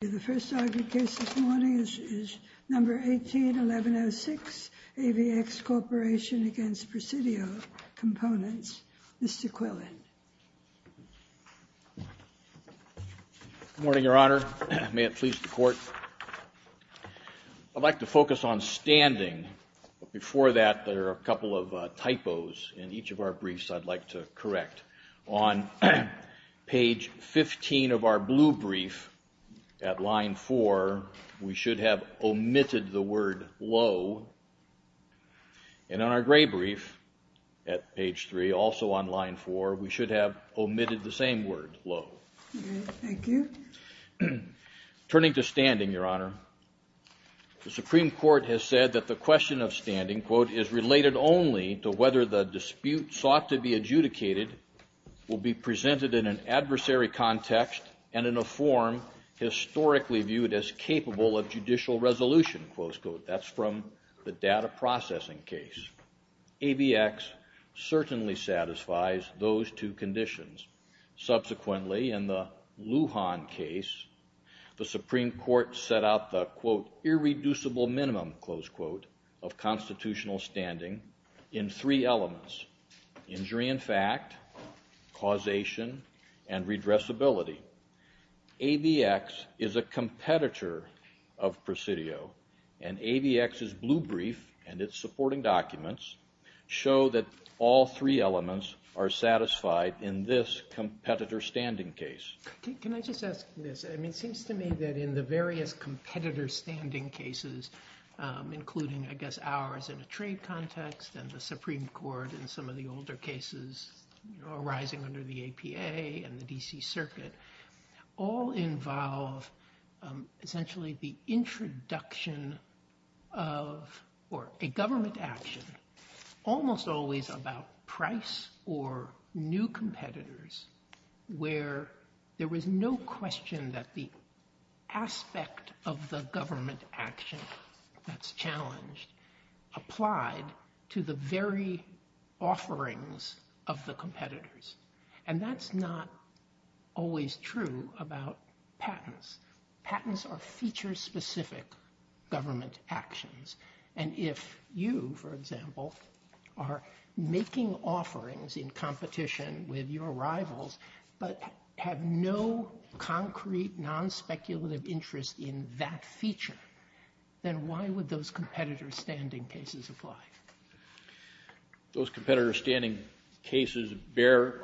The first argued case this morning is number 18-1106, AVX Corporation v. Presidio Components. Mr. Quillen. Good morning, Your Honor. May it please the Court. I'd like to focus on standing, but before that there are a couple of typos in each of our briefs I'd like to correct. On page 15 of our blue brief, at line 4, we should have omitted the word low. And on our gray brief, at page 3, also on line 4, we should have omitted the same word, low. Thank you. Turning to standing, Your Honor, the Supreme Court has said that the question of standing, quote, is related only to whether the dispute sought to be adjudicated will be presented in an adversary context and in a form historically viewed as capable of judicial resolution, close quote. That's from the data processing case. AVX certainly satisfies those two conditions. Subsequently, in the Lujan case, the Supreme Court set out the, quote, irreducible minimum, close quote, of constitutional standing in three elements. Injury in fact, causation, and redressability. AVX is a competitor of Presidio, and AVX's blue brief and its supporting documents show that all three elements are satisfied in this competitor standing case. Can I just ask this? It seems to me that in the various competitor standing cases, including, I guess, ours in a trade context and the Supreme Court in some of the older cases arising under the APA and the D.C. Circuit, all involve essentially the introduction of, or a government action, almost always about price or new competitors where there was no question that the aspect of the government action that's challenged applied to the very offerings of the competitors. And that's not always true about patents. Patents are feature-specific government actions. And if you, for example, are making offerings in competition with your rivals but have no concrete, non-speculative interest in that feature, then why would those competitor standing cases apply? Those competitor standing cases bear,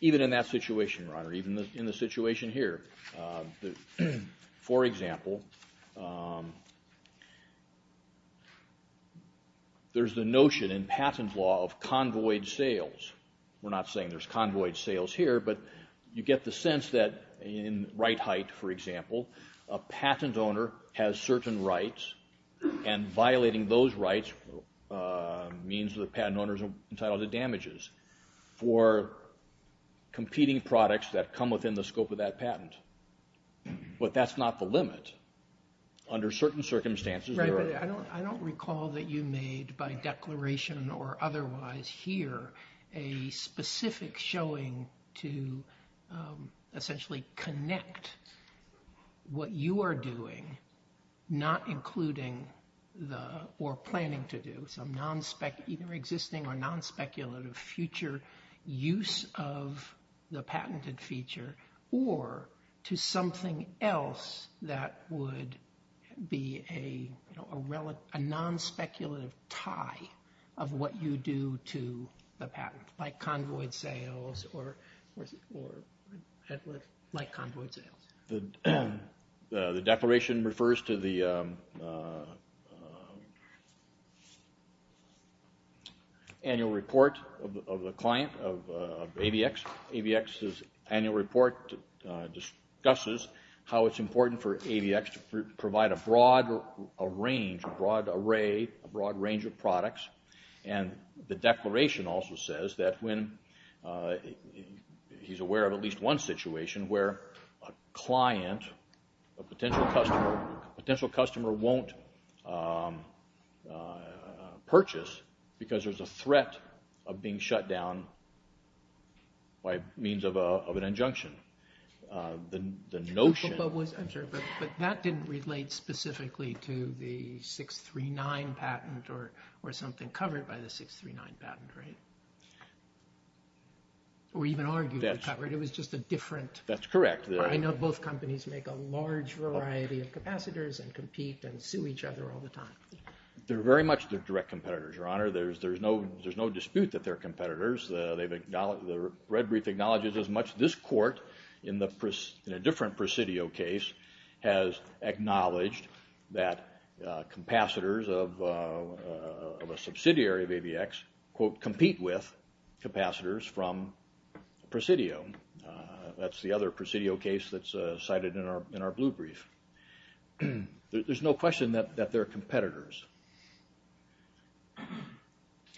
even in that situation, Your Honor, even in the situation here. For example, there's the notion in patent law of convoyed sales. We're not saying there's convoyed sales here, but you get the sense that in Wright Height, for example, a patent owner has certain rights, and violating those rights means the patent owner is entitled to damages for competing products that come within the scope of that patent. But that's not the limit. Under certain circumstances, there are... Right, but I don't recall that you made by declaration or otherwise here a specific showing to essentially connect what you are doing, not including or planning to do, some existing or non-speculative future use of the patented feature, or to something else that would be a non-speculative tie of what you do to the patent, like convoyed sales or like convoyed sales. The declaration refers to the annual report of a client of ABX. ABX's annual report discusses how it's important for ABX to provide a broad range, a broad array, a broad range of products, and the declaration also says that when... He's aware of at least one situation where a client, a potential customer, won't purchase because there's a threat of being shut down by means of an injunction. The notion... I'm sorry, but that didn't relate specifically to the 639 patent or something covered by the 639 patent, right? Or even arguably covered, it was just a different... That's correct. I know both companies make a large variety of capacitors and compete and sue each other all the time. They're very much direct competitors, Your Honor. There's no dispute that they're competitors. The red brief acknowledges as much. This court, in a different Presidio case, has acknowledged that capacitors of a subsidiary of ABX quote, compete with capacitors from Presidio. That's the other Presidio case that's cited in our blue brief. There's no question that they're competitors.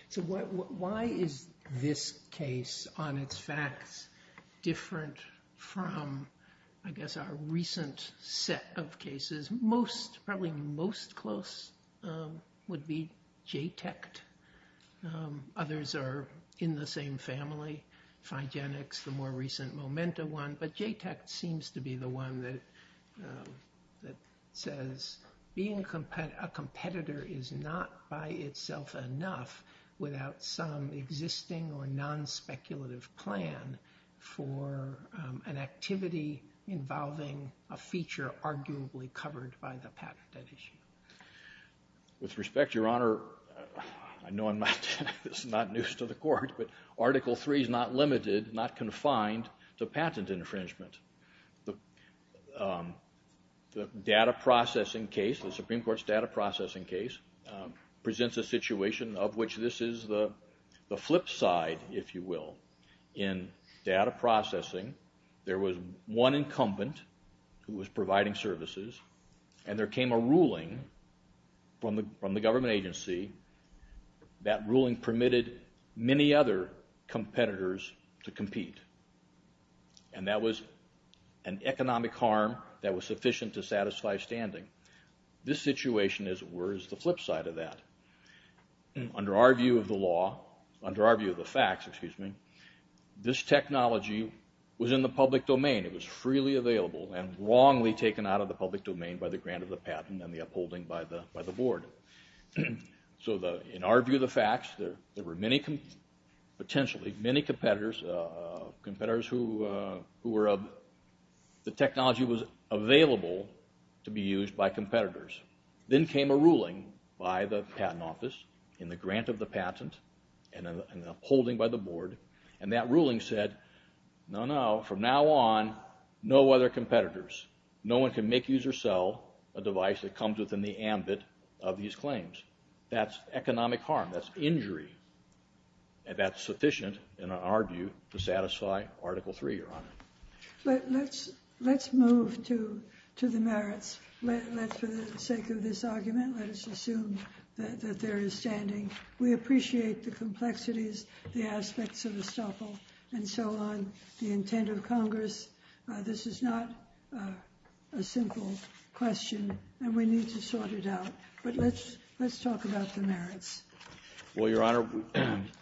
So why is this case, on its facts, different from, I guess, our recent set of cases? Most, probably most close, would be JTECT. Others are in the same family. Figenics, the more recent Momenta one. But JTECT seems to be the one that says being a competitor is not by itself enough without some existing or non-speculative plan for an activity involving a feature arguably covered by the patent at issue. With respect, Your Honor, I know this is not news to the court, but Article III is not limited, not confined to patent infringement. The data processing case, the Supreme Court's data processing case, presents a situation of which this is the flip side, if you will. In data processing, there was one incumbent who was providing services, and there came a ruling from the government agency. That ruling permitted many other competitors to compete, and that was an economic harm that was sufficient to satisfy standing. This situation, as it were, is the flip side of that. Under our view of the law, under our view of the facts, this technology was in the public domain. It was freely available and wrongly taken out of the public domain by the grant of the patent and the upholding by the board. So in our view of the facts, there were potentially many competitors who the technology was available to be used by competitors. Then came a ruling by the patent office in the grant of the patent and the upholding by the board, and that ruling said, no, no, from now on, no other competitors. No one can make, use, or sell a device that comes within the ambit of these claims. That's economic harm. That's injury, and that's sufficient, in our view, to satisfy Article III, Your Honor. Let's move to the merits. For the sake of this argument, let us assume that there is standing. We appreciate the complexities, the aspects of the stuffle, and so on, the intent of Congress. This is not a simple question, and we need to sort it out. But let's talk about the merits. Well, Your Honor,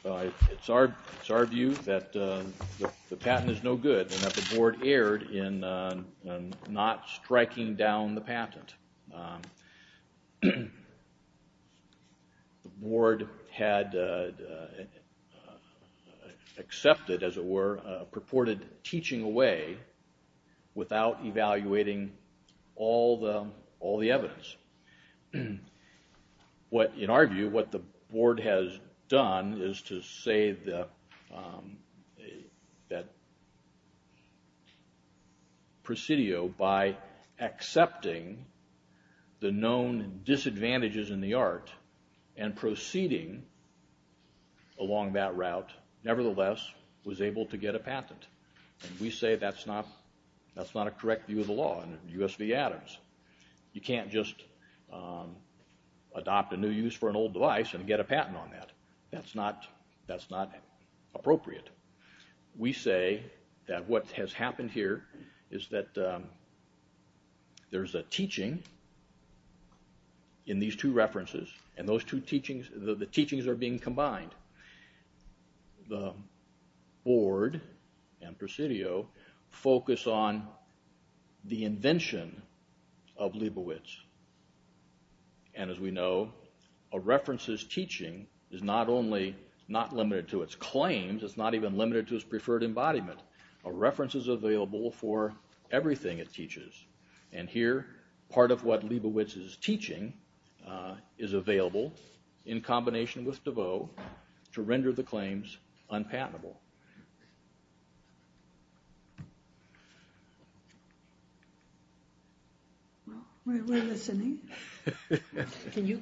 it's our view that the patent is no good and that the board erred in not striking down the patent. The board had accepted, as it were, purported teaching away without evaluating all the evidence. In our view, what the board has done is to say that Presidio, by accepting the known disadvantages in the art and proceeding along that route, nevertheless, was able to get a patent. We say that's not a correct view of the law in U.S. v. Adams. You can't just adopt a new use for an old device and get a patent on that. That's not appropriate. We say that what has happened here is that there's a teaching in these two references, and the teachings are being combined. The board and Presidio focus on the invention of Leibovitz. And as we know, a reference's teaching is not only not limited to its claims, it's not even limited to its preferred embodiment. A reference is available for everything it teaches. And here, part of what Leibovitz is teaching is available, in combination with DeVoe, to render the claims unpatentable. We're listening. Can you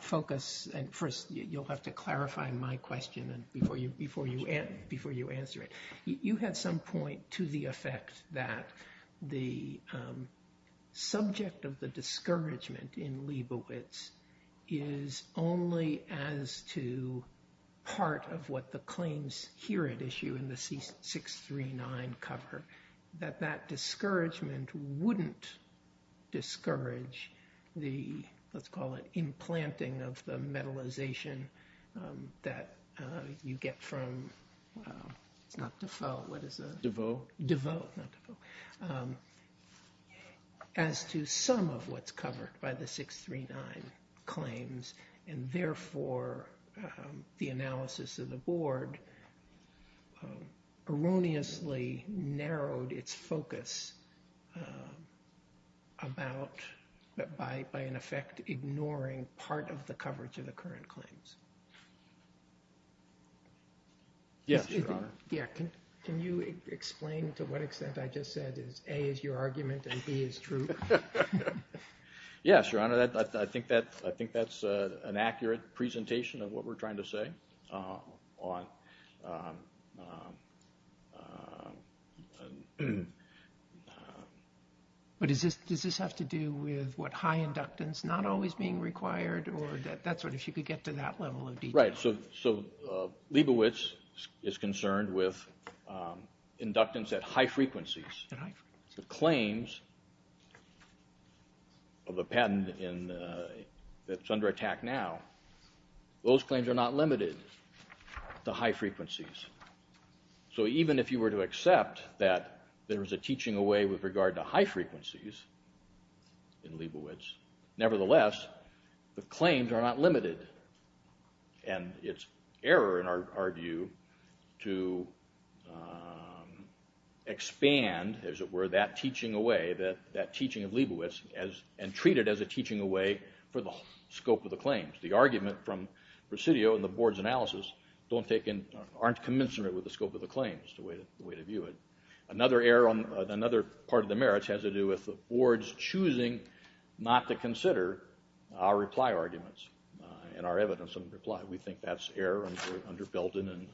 focus, and first you'll have to clarify my question before you answer it. You had some point to the effect that the subject of the discouragement in Leibovitz is only as to part of what the claims here at issue in the C639 cover, that that discouragement wouldn't discourage the, let's call it, DeFoe, what is that? DeVoe? DeVoe, not DeVoe. As to some of what's covered by the C639 claims, and therefore the analysis of the board erroneously narrowed its focus about, by an effect, ignoring part of the coverage of the current claims. Yes, Your Honor. Can you explain to what extent I just said is A is your argument and B is true? Yes, Your Honor. I think that's an accurate presentation of what we're trying to say. But does this have to do with what high inductance, not always being required, or if you could get to that level of detail. Right, so Leibovitz is concerned with inductance at high frequencies. The claims of a patent that's under attack now, those claims are not limited to high frequencies. So even if you were to accept that there is a teaching away with regard to high frequencies in Leibovitz, nevertheless, the claims are not limited. And it's error, in our view, to expand, as it were, that teaching away, that teaching of Leibovitz, and treat it as a teaching away for the scope of the claims. The argument from Presidio and the board's analysis aren't commensurate with the scope of the claims, is the way to view it. Another part of the merits has to do with the board's choosing not to consider our reply arguments and our evidence in reply. We think that's error under Belden and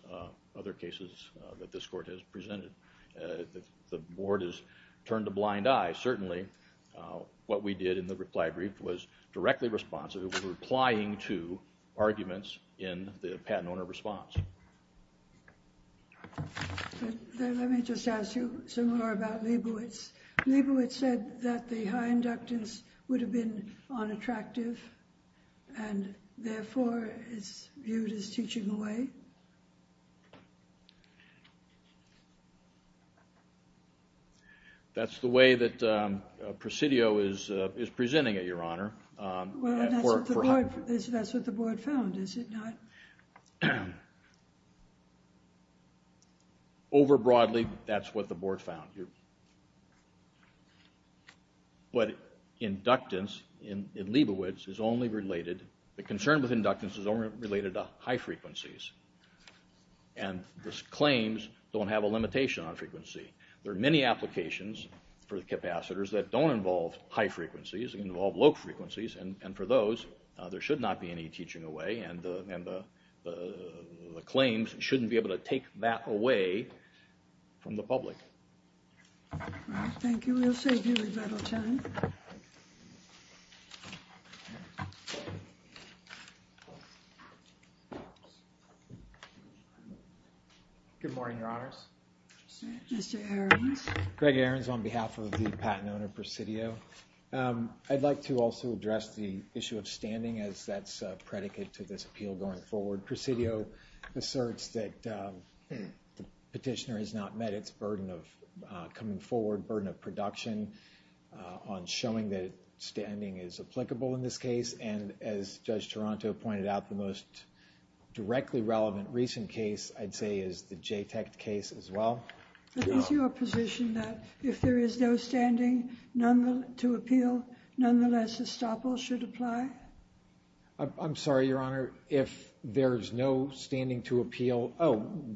other cases that this court has presented. The board has turned a blind eye, certainly. What we did in the reply brief was directly responsive. It was replying to arguments in the patent owner response. Let me just ask you some more about Leibovitz. Leibovitz said that the high inductance would have been unattractive, and therefore is viewed as teaching away. That's the way that Presidio is presenting it, Your Honor. Well, that's what the board found, is it not? Overbroadly, that's what the board found. What inductance in Leibovitz is only related, the concern with inductance is only related to high frequencies, and the claims don't have a limitation on frequency. There are many applications for the capacitors that don't involve high frequencies, that involve low frequencies, and for those, there should not be any teaching away, and the claims shouldn't be able to take that away from the public. Thank you. We'll save you a little time. Good morning, Your Honors. Mr. Ahrens. Greg Ahrens on behalf of the patent owner, Presidio. I'd like to also address the issue of standing, as that's a predicate to this appeal going forward. Presidio asserts that the petitioner has not met its burden of coming forward, burden of production, on showing that standing is applicable in this case, and as Judge Toronto pointed out, the most directly relevant recent case, I'd say, is the JTEC case as well. Is your position that if there is no standing to appeal, nonetheless, estoppel should apply? I'm sorry, Your Honor. If there's no standing to appeal,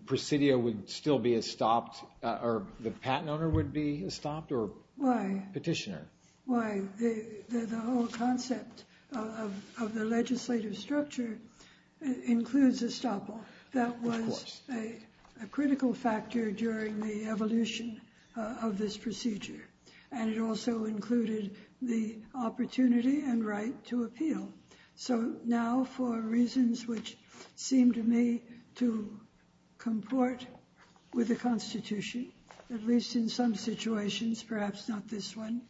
Presidio would still be estopped, or the patent owner would be estopped, or petitioner? Why? The whole concept of the legislative structure includes estoppel. That was a critical factor during the evolution of this procedure, and it also included the opportunity and right to appeal. So now, for reasons which seem to me to comport with the Constitution, at least in some situations, perhaps not this one,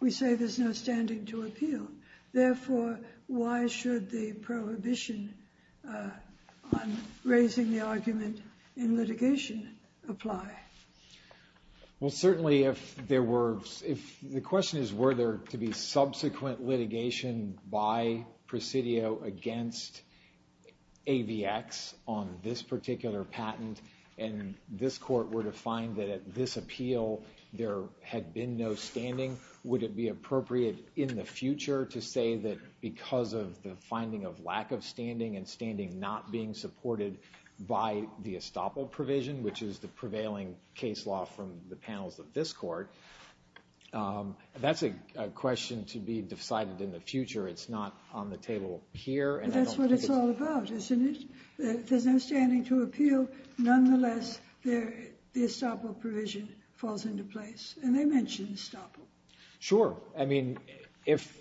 we say there's no standing to appeal. Therefore, why should the prohibition on raising the argument in litigation apply? Well, certainly, if there were—the question is, were there to be subsequent litigation by Presidio against AVX on this particular patent, and this court were to find that at this appeal there had been no standing, would it be appropriate in the future to say that because of the finding of lack of standing and standing not being supported by the estoppel provision, which is the prevailing case law from the panels of this court, that's a question to be decided in the future. It's not on the table here, and I don't think it's— But that's what it's all about, isn't it? If there's no standing to appeal, nonetheless, the estoppel provision falls into place. And I mentioned estoppel. Sure. I mean, if,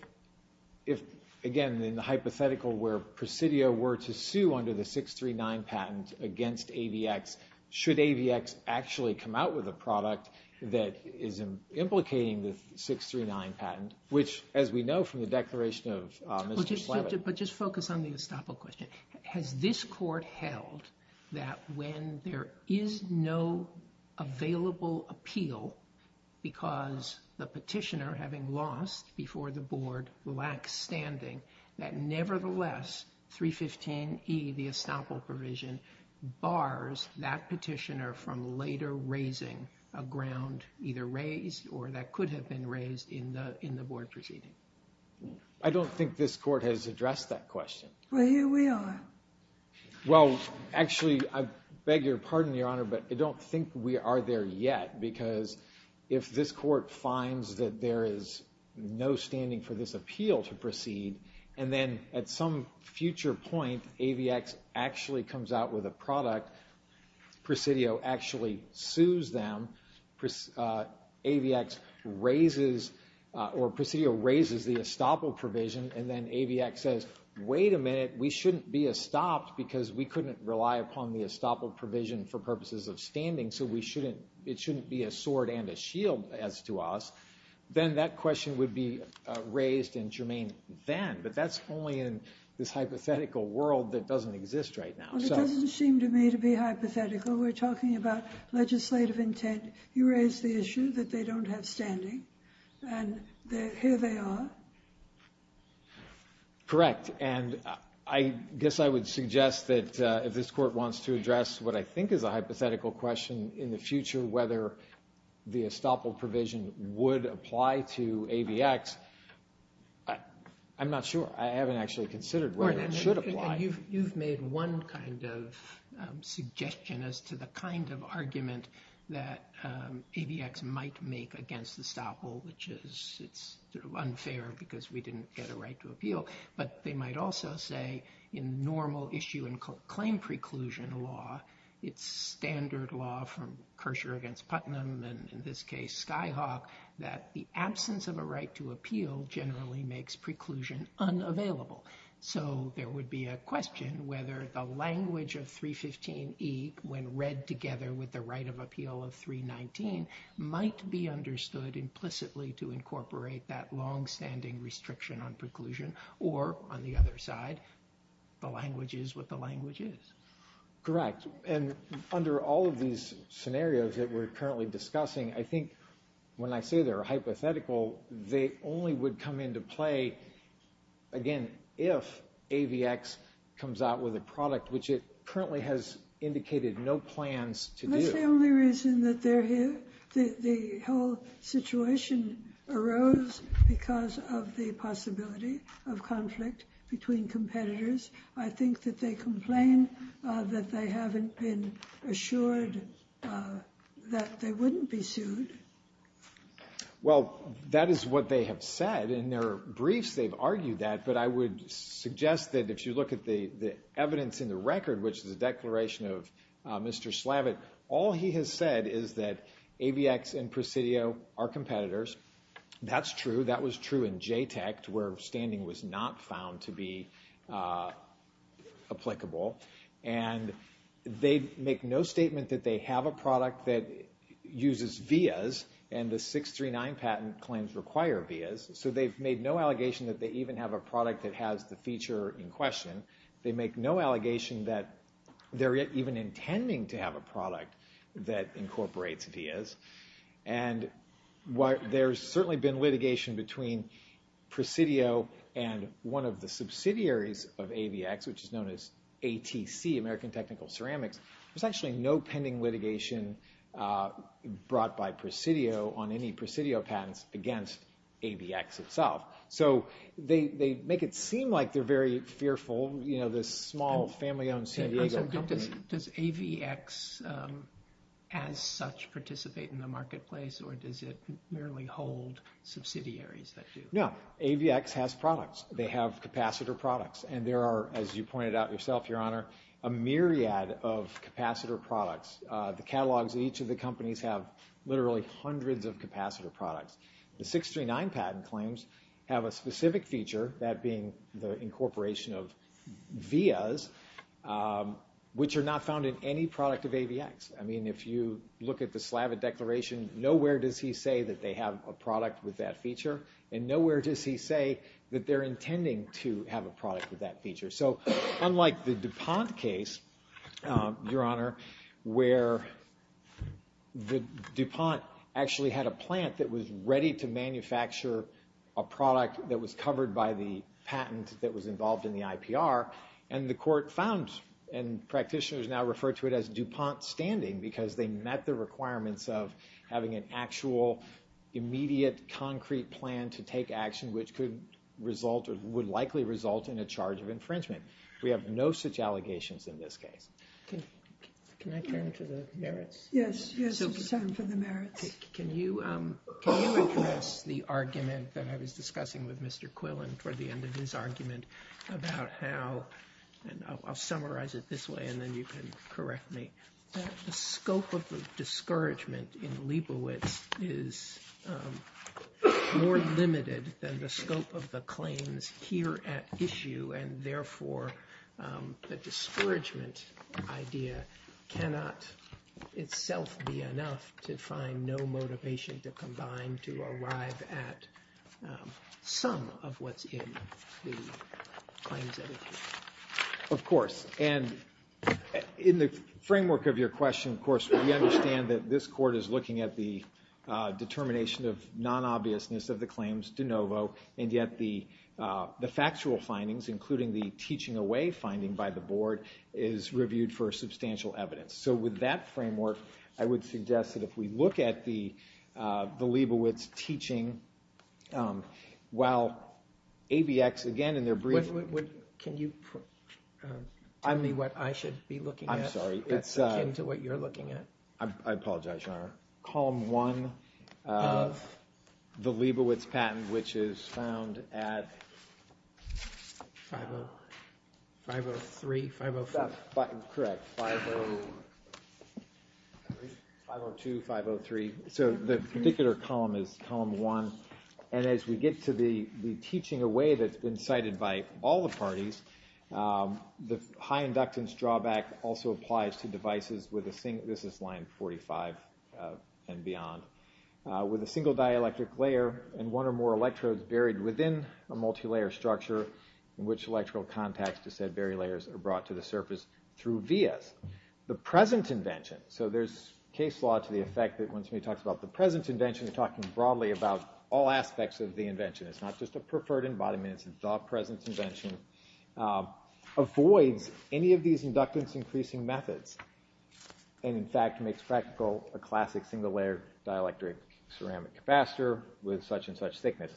again, in the hypothetical where Presidio were to sue under the 639 patent against AVX, should AVX actually come out with a product that is implicating the 639 patent, which, as we know from the declaration of Mr. Slavitt— But just focus on the estoppel question. Has this court held that when there is no available appeal because the petitioner, having lost before the board, lacks standing, that nevertheless 315E, the estoppel provision, bars that petitioner from later raising a ground either raised or that could have been raised in the board proceeding? I don't think this court has addressed that question. Well, here we are. Well, actually, I beg your pardon, Your Honor, but I don't think we are there yet because if this court finds that there is no standing for this appeal to proceed and then at some future point AVX actually comes out with a product, Presidio actually sues them, AVX raises—or Presidio raises the estoppel provision, and then AVX says, wait a minute, we shouldn't be estopped because we couldn't rely upon the estoppel provision for purposes of standing, so it shouldn't be a sword and a shield as to us, then that question would be raised and germane then, but that's only in this hypothetical world that doesn't exist right now. Well, it doesn't seem to me to be hypothetical. We're talking about legislative intent. And you raised the issue that they don't have standing, and here they are. Correct. And I guess I would suggest that if this court wants to address what I think is a hypothetical question in the future, whether the estoppel provision would apply to AVX, I'm not sure. I haven't actually considered whether it should apply. You've made one kind of suggestion as to the kind of argument that AVX might make against estoppel, which is it's unfair because we didn't get a right to appeal, but they might also say in normal issue and claim preclusion law, it's standard law from Kircher against Putnam, and in this case Skyhawk, that the absence of a right to appeal generally makes preclusion unavailable. So there would be a question whether the language of 315E, when read together with the right of appeal of 319, might be understood implicitly to incorporate that longstanding restriction on preclusion or, on the other side, the language is what the language is. Correct. And under all of these scenarios that we're currently discussing, I think when I say they're hypothetical, they only would come into play, again, if AVX comes out with a product which it currently has indicated no plans to do. That's the only reason that the whole situation arose because of the possibility of conflict between competitors. I think that they complain that they haven't been assured that they wouldn't be sued. Well, that is what they have said. In their briefs, they've argued that, but I would suggest that if you look at the evidence in the record, which is a declaration of Mr. Slavitt, all he has said is that AVX and Presidio are competitors. That's true. That was true in JTEC, where standing was not found to be applicable. They make no statement that they have a product that uses VIAs, and the 639 patent claims require VIAs, so they've made no allegation that they even have a product that has the feature in question. They make no allegation that they're even intending to have a product that incorporates VIAs. There's certainly been litigation between Presidio and one of the subsidiaries of AVX, which is known as ATC, American Technical Ceramics. There's actually no pending litigation brought by Presidio on any Presidio patents against AVX itself. So they make it seem like they're very fearful, this small family-owned San Diego company. Does AVX as such participate in the marketplace, or does it merely hold subsidiaries that do? No, AVX has products. They have capacitor products, and there are, as you pointed out yourself, Your Honor, a myriad of capacitor products. The catalogs of each of the companies have literally hundreds of capacitor products. The 639 patent claims have a specific feature, that being the incorporation of VIAs, which are not found in any product of AVX. I mean, if you look at the Slavitt Declaration, nowhere does he say that they have a product with that feature, and nowhere does he say that they're intending to have a product with that feature. So unlike the DuPont case, Your Honor, where DuPont actually had a plant that was ready to manufacture a product that was covered by the patent that was involved in the IPR, and the court found, and practitioners now refer to it as DuPont standing because they met the requirements of having an actual, immediate, concrete plan to take action, which would likely result in a charge of infringement. We have no such allegations in this case. Can I turn to the merits? Yes, you can turn to the merits. Can you address the argument that I was discussing with Mr. Quillen toward the end of his argument about how, and I'll summarize it this way and then you can correct me, that the scope of the discouragement in Liebowitz is more limited than the scope of the claims here at issue, and therefore the discouragement idea cannot itself be enough to find no motivation to combine, to arrive at some of what's in the claims that are here. Of course, and in the framework of your question, of course, we understand that this court is looking at the determination of non-obviousness of the claims de novo, and yet the factual findings, including the teaching away finding by the board, is reviewed for substantial evidence. So with that framework, I would suggest that if we look at the Liebowitz teaching, while ABX, again, in their brief Can you tell me what I should be looking at? I'm sorry. It's akin to what you're looking at. I apologize, Your Honor. Column one of the Liebowitz patent, which is found at 503, 504. Correct, 502, 503. So the particular column is column one, and as we get to the teaching away that's been cited by all the parties, the high inductance drawback also applies to devices with a single, this is line 45 and beyond, with a single dielectric layer and one or more electrodes buried within a multilayer structure in which electrical contacts to said buried layers are brought to the surface through vias. The present invention, so there's case law to the effect that when somebody talks about the present invention, they're talking broadly about all aspects of the invention. It's not just a preferred embodiment, it's a thought present invention, avoids any of these inductance increasing methods, and in fact makes practical a classic single layer dielectric ceramic capacitor with such and such thickness.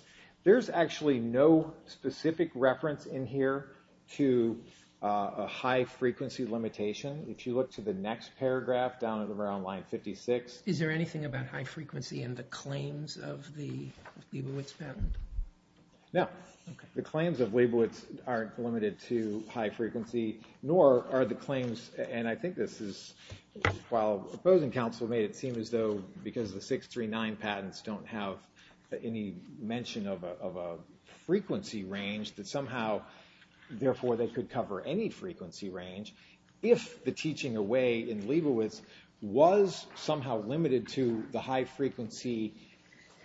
There's actually no specific reference in here to a high frequency limitation. If you look to the next paragraph down at around line 56. Is there anything about high frequency in the claims of the Leibovitz patent? No. Okay. The claims of Leibovitz aren't limited to high frequency, nor are the claims, and I think this is while opposing counsel made it seem as though because the 639 patents don't have any mention of a frequency range that somehow, therefore they could cover any frequency range. If the teaching away in Leibovitz was somehow limited to the high frequency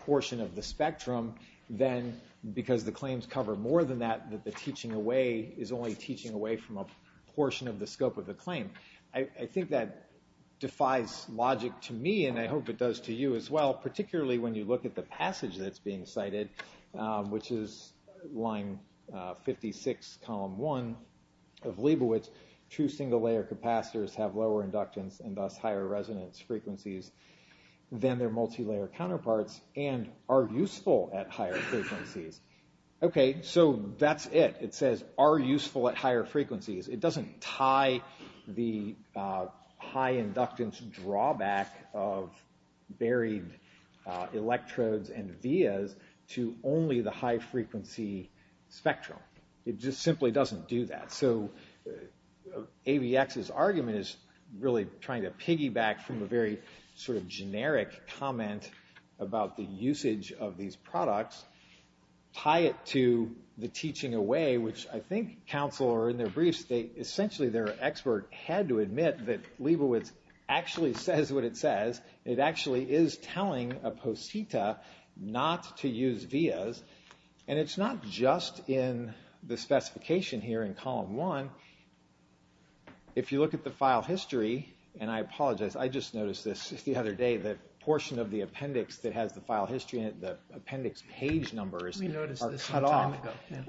portion of the spectrum, then because the claims cover more than that, that the teaching away is only teaching away from a portion of the scope of the claim. I think that defies logic to me, and I hope it does to you as well, particularly when you look at the passage that's being cited, which is line 56, column 1 of Leibovitz. Two single layer capacitors have lower inductance and thus higher resonance frequencies than their multi-layer counterparts and are useful at higher frequencies. Okay. So that's it. It says are useful at higher frequencies. It doesn't tie the high inductance drawback of buried electrodes and vias to only the high frequency spectrum. It just simply doesn't do that. So AVX's argument is really trying to piggyback from a very sort of generic comment about the usage of these products, tie it to the teaching away, which I think counsel, or in their briefs, essentially their expert had to admit that Leibovitz actually says what it says. It actually is telling a posita not to use vias, and it's not just in the specification here in column 1. If you look at the file history, and I apologize, I just noticed this the other day, the portion of the appendix that has the file history in it, the appendix page numbers are cut off.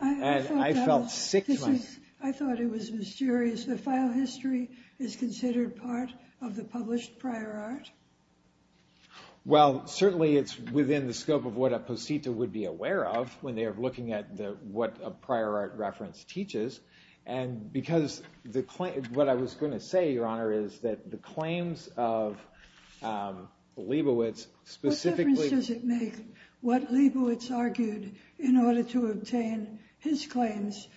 I felt sick twice. I thought it was mysterious. The file history is considered part of the published prior art? Well, certainly it's within the scope of what a posita would be aware of when they are looking at what a prior art reference teaches, and because what I was going to say, Your Honor, is that the claims of Leibovitz specifically. What difference does it make what Leibovitz argued in order to obtain his claims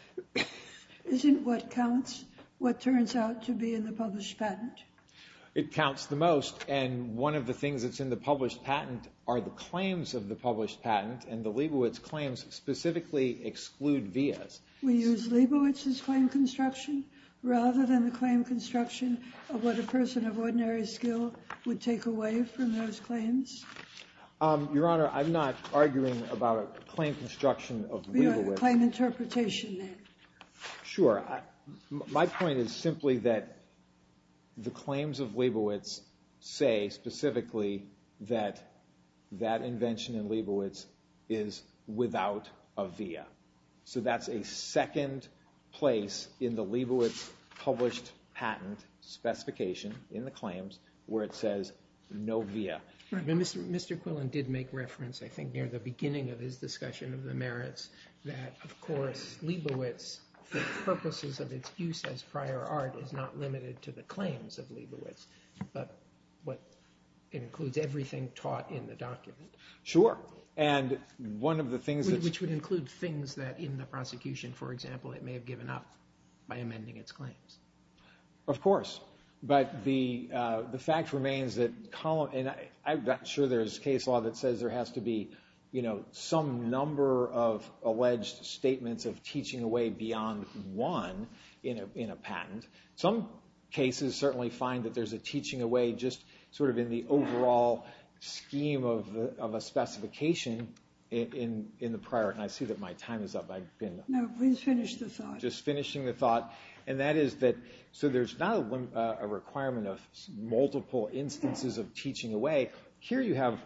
isn't what counts, what turns out to be in the published patent. It counts the most, and one of the things that's in the published patent are the claims of the published patent, and the Leibovitz claims specifically exclude vias. We use Leibovitz's claim construction rather than the claim construction of what a person of ordinary skill would take away from those claims. Your Honor, I'm not arguing about claim construction of Leibovitz. Claim interpretation, then. Sure. My point is simply that the claims of Leibovitz say specifically that that invention in Leibovitz is without a via. So that's a second place in the Leibovitz published patent specification in the claims where it says no via. Mr. Quillen did make reference, I think, near the beginning of his discussion of the merits that, of course, Leibovitz, for purposes of its use as prior art, is not limited to the claims of Leibovitz but includes everything taught in the document. Sure, and one of the things that's... Which would include things that in the prosecution, for example, it may have given up by amending its claims. Of course. But the fact remains that I'm not sure there's case law that says there has to be some number of alleged statements of teaching away beyond one in a patent. Some cases certainly find that there's a teaching away just sort of in the overall scheme of a specification in the prior art. And I see that my time is up. No, please finish the thought. Just finishing the thought. And that is that... So there's not a requirement of multiple instances of teaching away. Here you have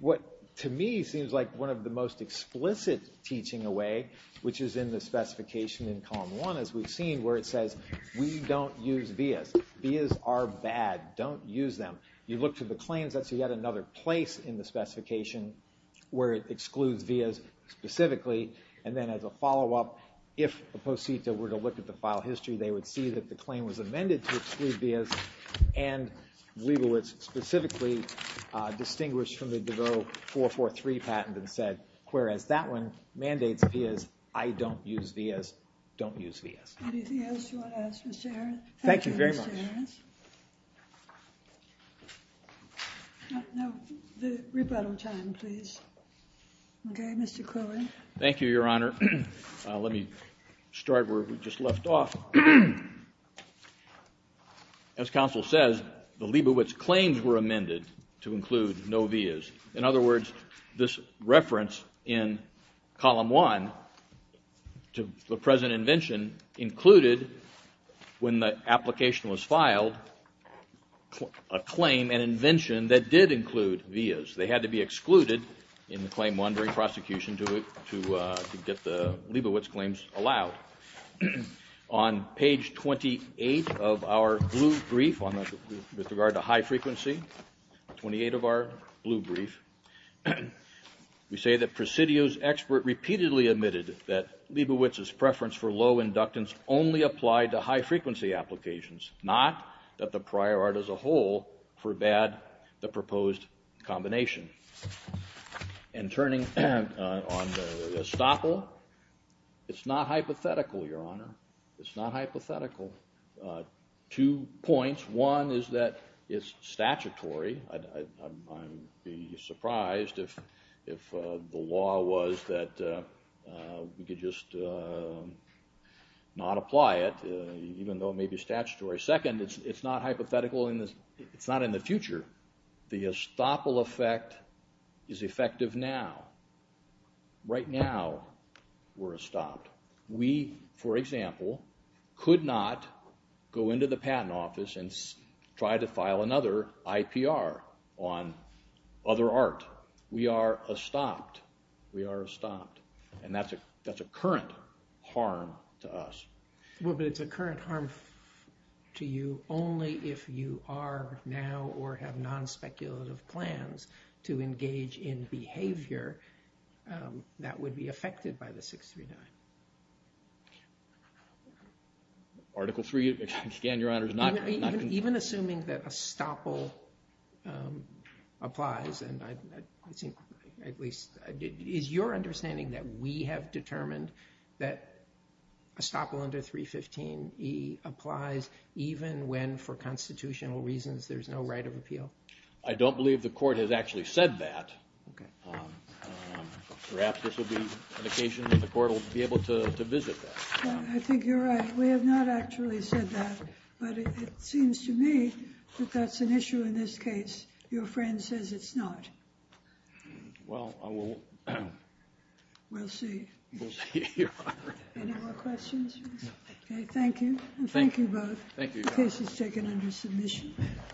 what, to me, seems like one of the most explicit teaching away, which is in the specification in column 1, as we've seen, where it says we don't use vias. Vias are bad. Don't use them. You look to the claims, that's yet another place in the specification where it excludes vias specifically. And then as a follow-up, if a posita were to look at the file history, they would see that the claim was amended to exclude vias. And we will specifically distinguish from the Devereux 443 patent and said, whereas that one mandates vias, I don't use vias. Don't use vias. Anything else you want to add, Mr. Arons? Thank you very much. Thank you, Mr. Arons. Now, the rebuttal time, please. Okay, Mr. Cohen. Thank you, Your Honor. Let me start where we just left off. As counsel says, the Liebowitz claims were amended to include no vias. In other words, this reference in column 1 to the present invention included, when the application was filed, a claim, an invention, that did include vias. They had to be excluded in the claim 1 during prosecution to get the Liebowitz claims allowed. On page 28 of our blue brief with regard to high frequency, 28 of our blue brief, we say that Presidio's expert repeatedly admitted that Liebowitz's preference for low inductance only applied to high frequency applications, not that the prior art as a whole forbade the proposed combination. And turning on the estoppel, it's not hypothetical, Your Honor. It's not hypothetical. Two points. One is that it's statutory. I'd be surprised if the law was that we could just not apply it, even though it may be statutory. Second, it's not hypothetical. It's not in the future. The estoppel effect is effective now. Right now, we're estopped. We, for example, could not go into the patent office and try to file another IPR on other art. We are estopped. We are estopped, and that's a current harm to us. Well, but it's a current harm to you only if you are now or have non-speculative plans to engage in behavior that would be affected by the 639. Article 3, again, Your Honor, is not— Even assuming that estoppel applies, and I think at least— is your understanding that we have determined that estoppel under 315e applies even when, for constitutional reasons, there's no right of appeal? I don't believe the Court has actually said that. Okay. Perhaps this will be an occasion when the Court will be able to visit that. I think you're right. We have not actually said that, but it seems to me that that's an issue in this case. Your friend says it's not. Well, I will— We'll see. We'll see, Your Honor. Any more questions? Okay, thank you. Thank you both. Thank you, Your Honor. The case is taken under submission.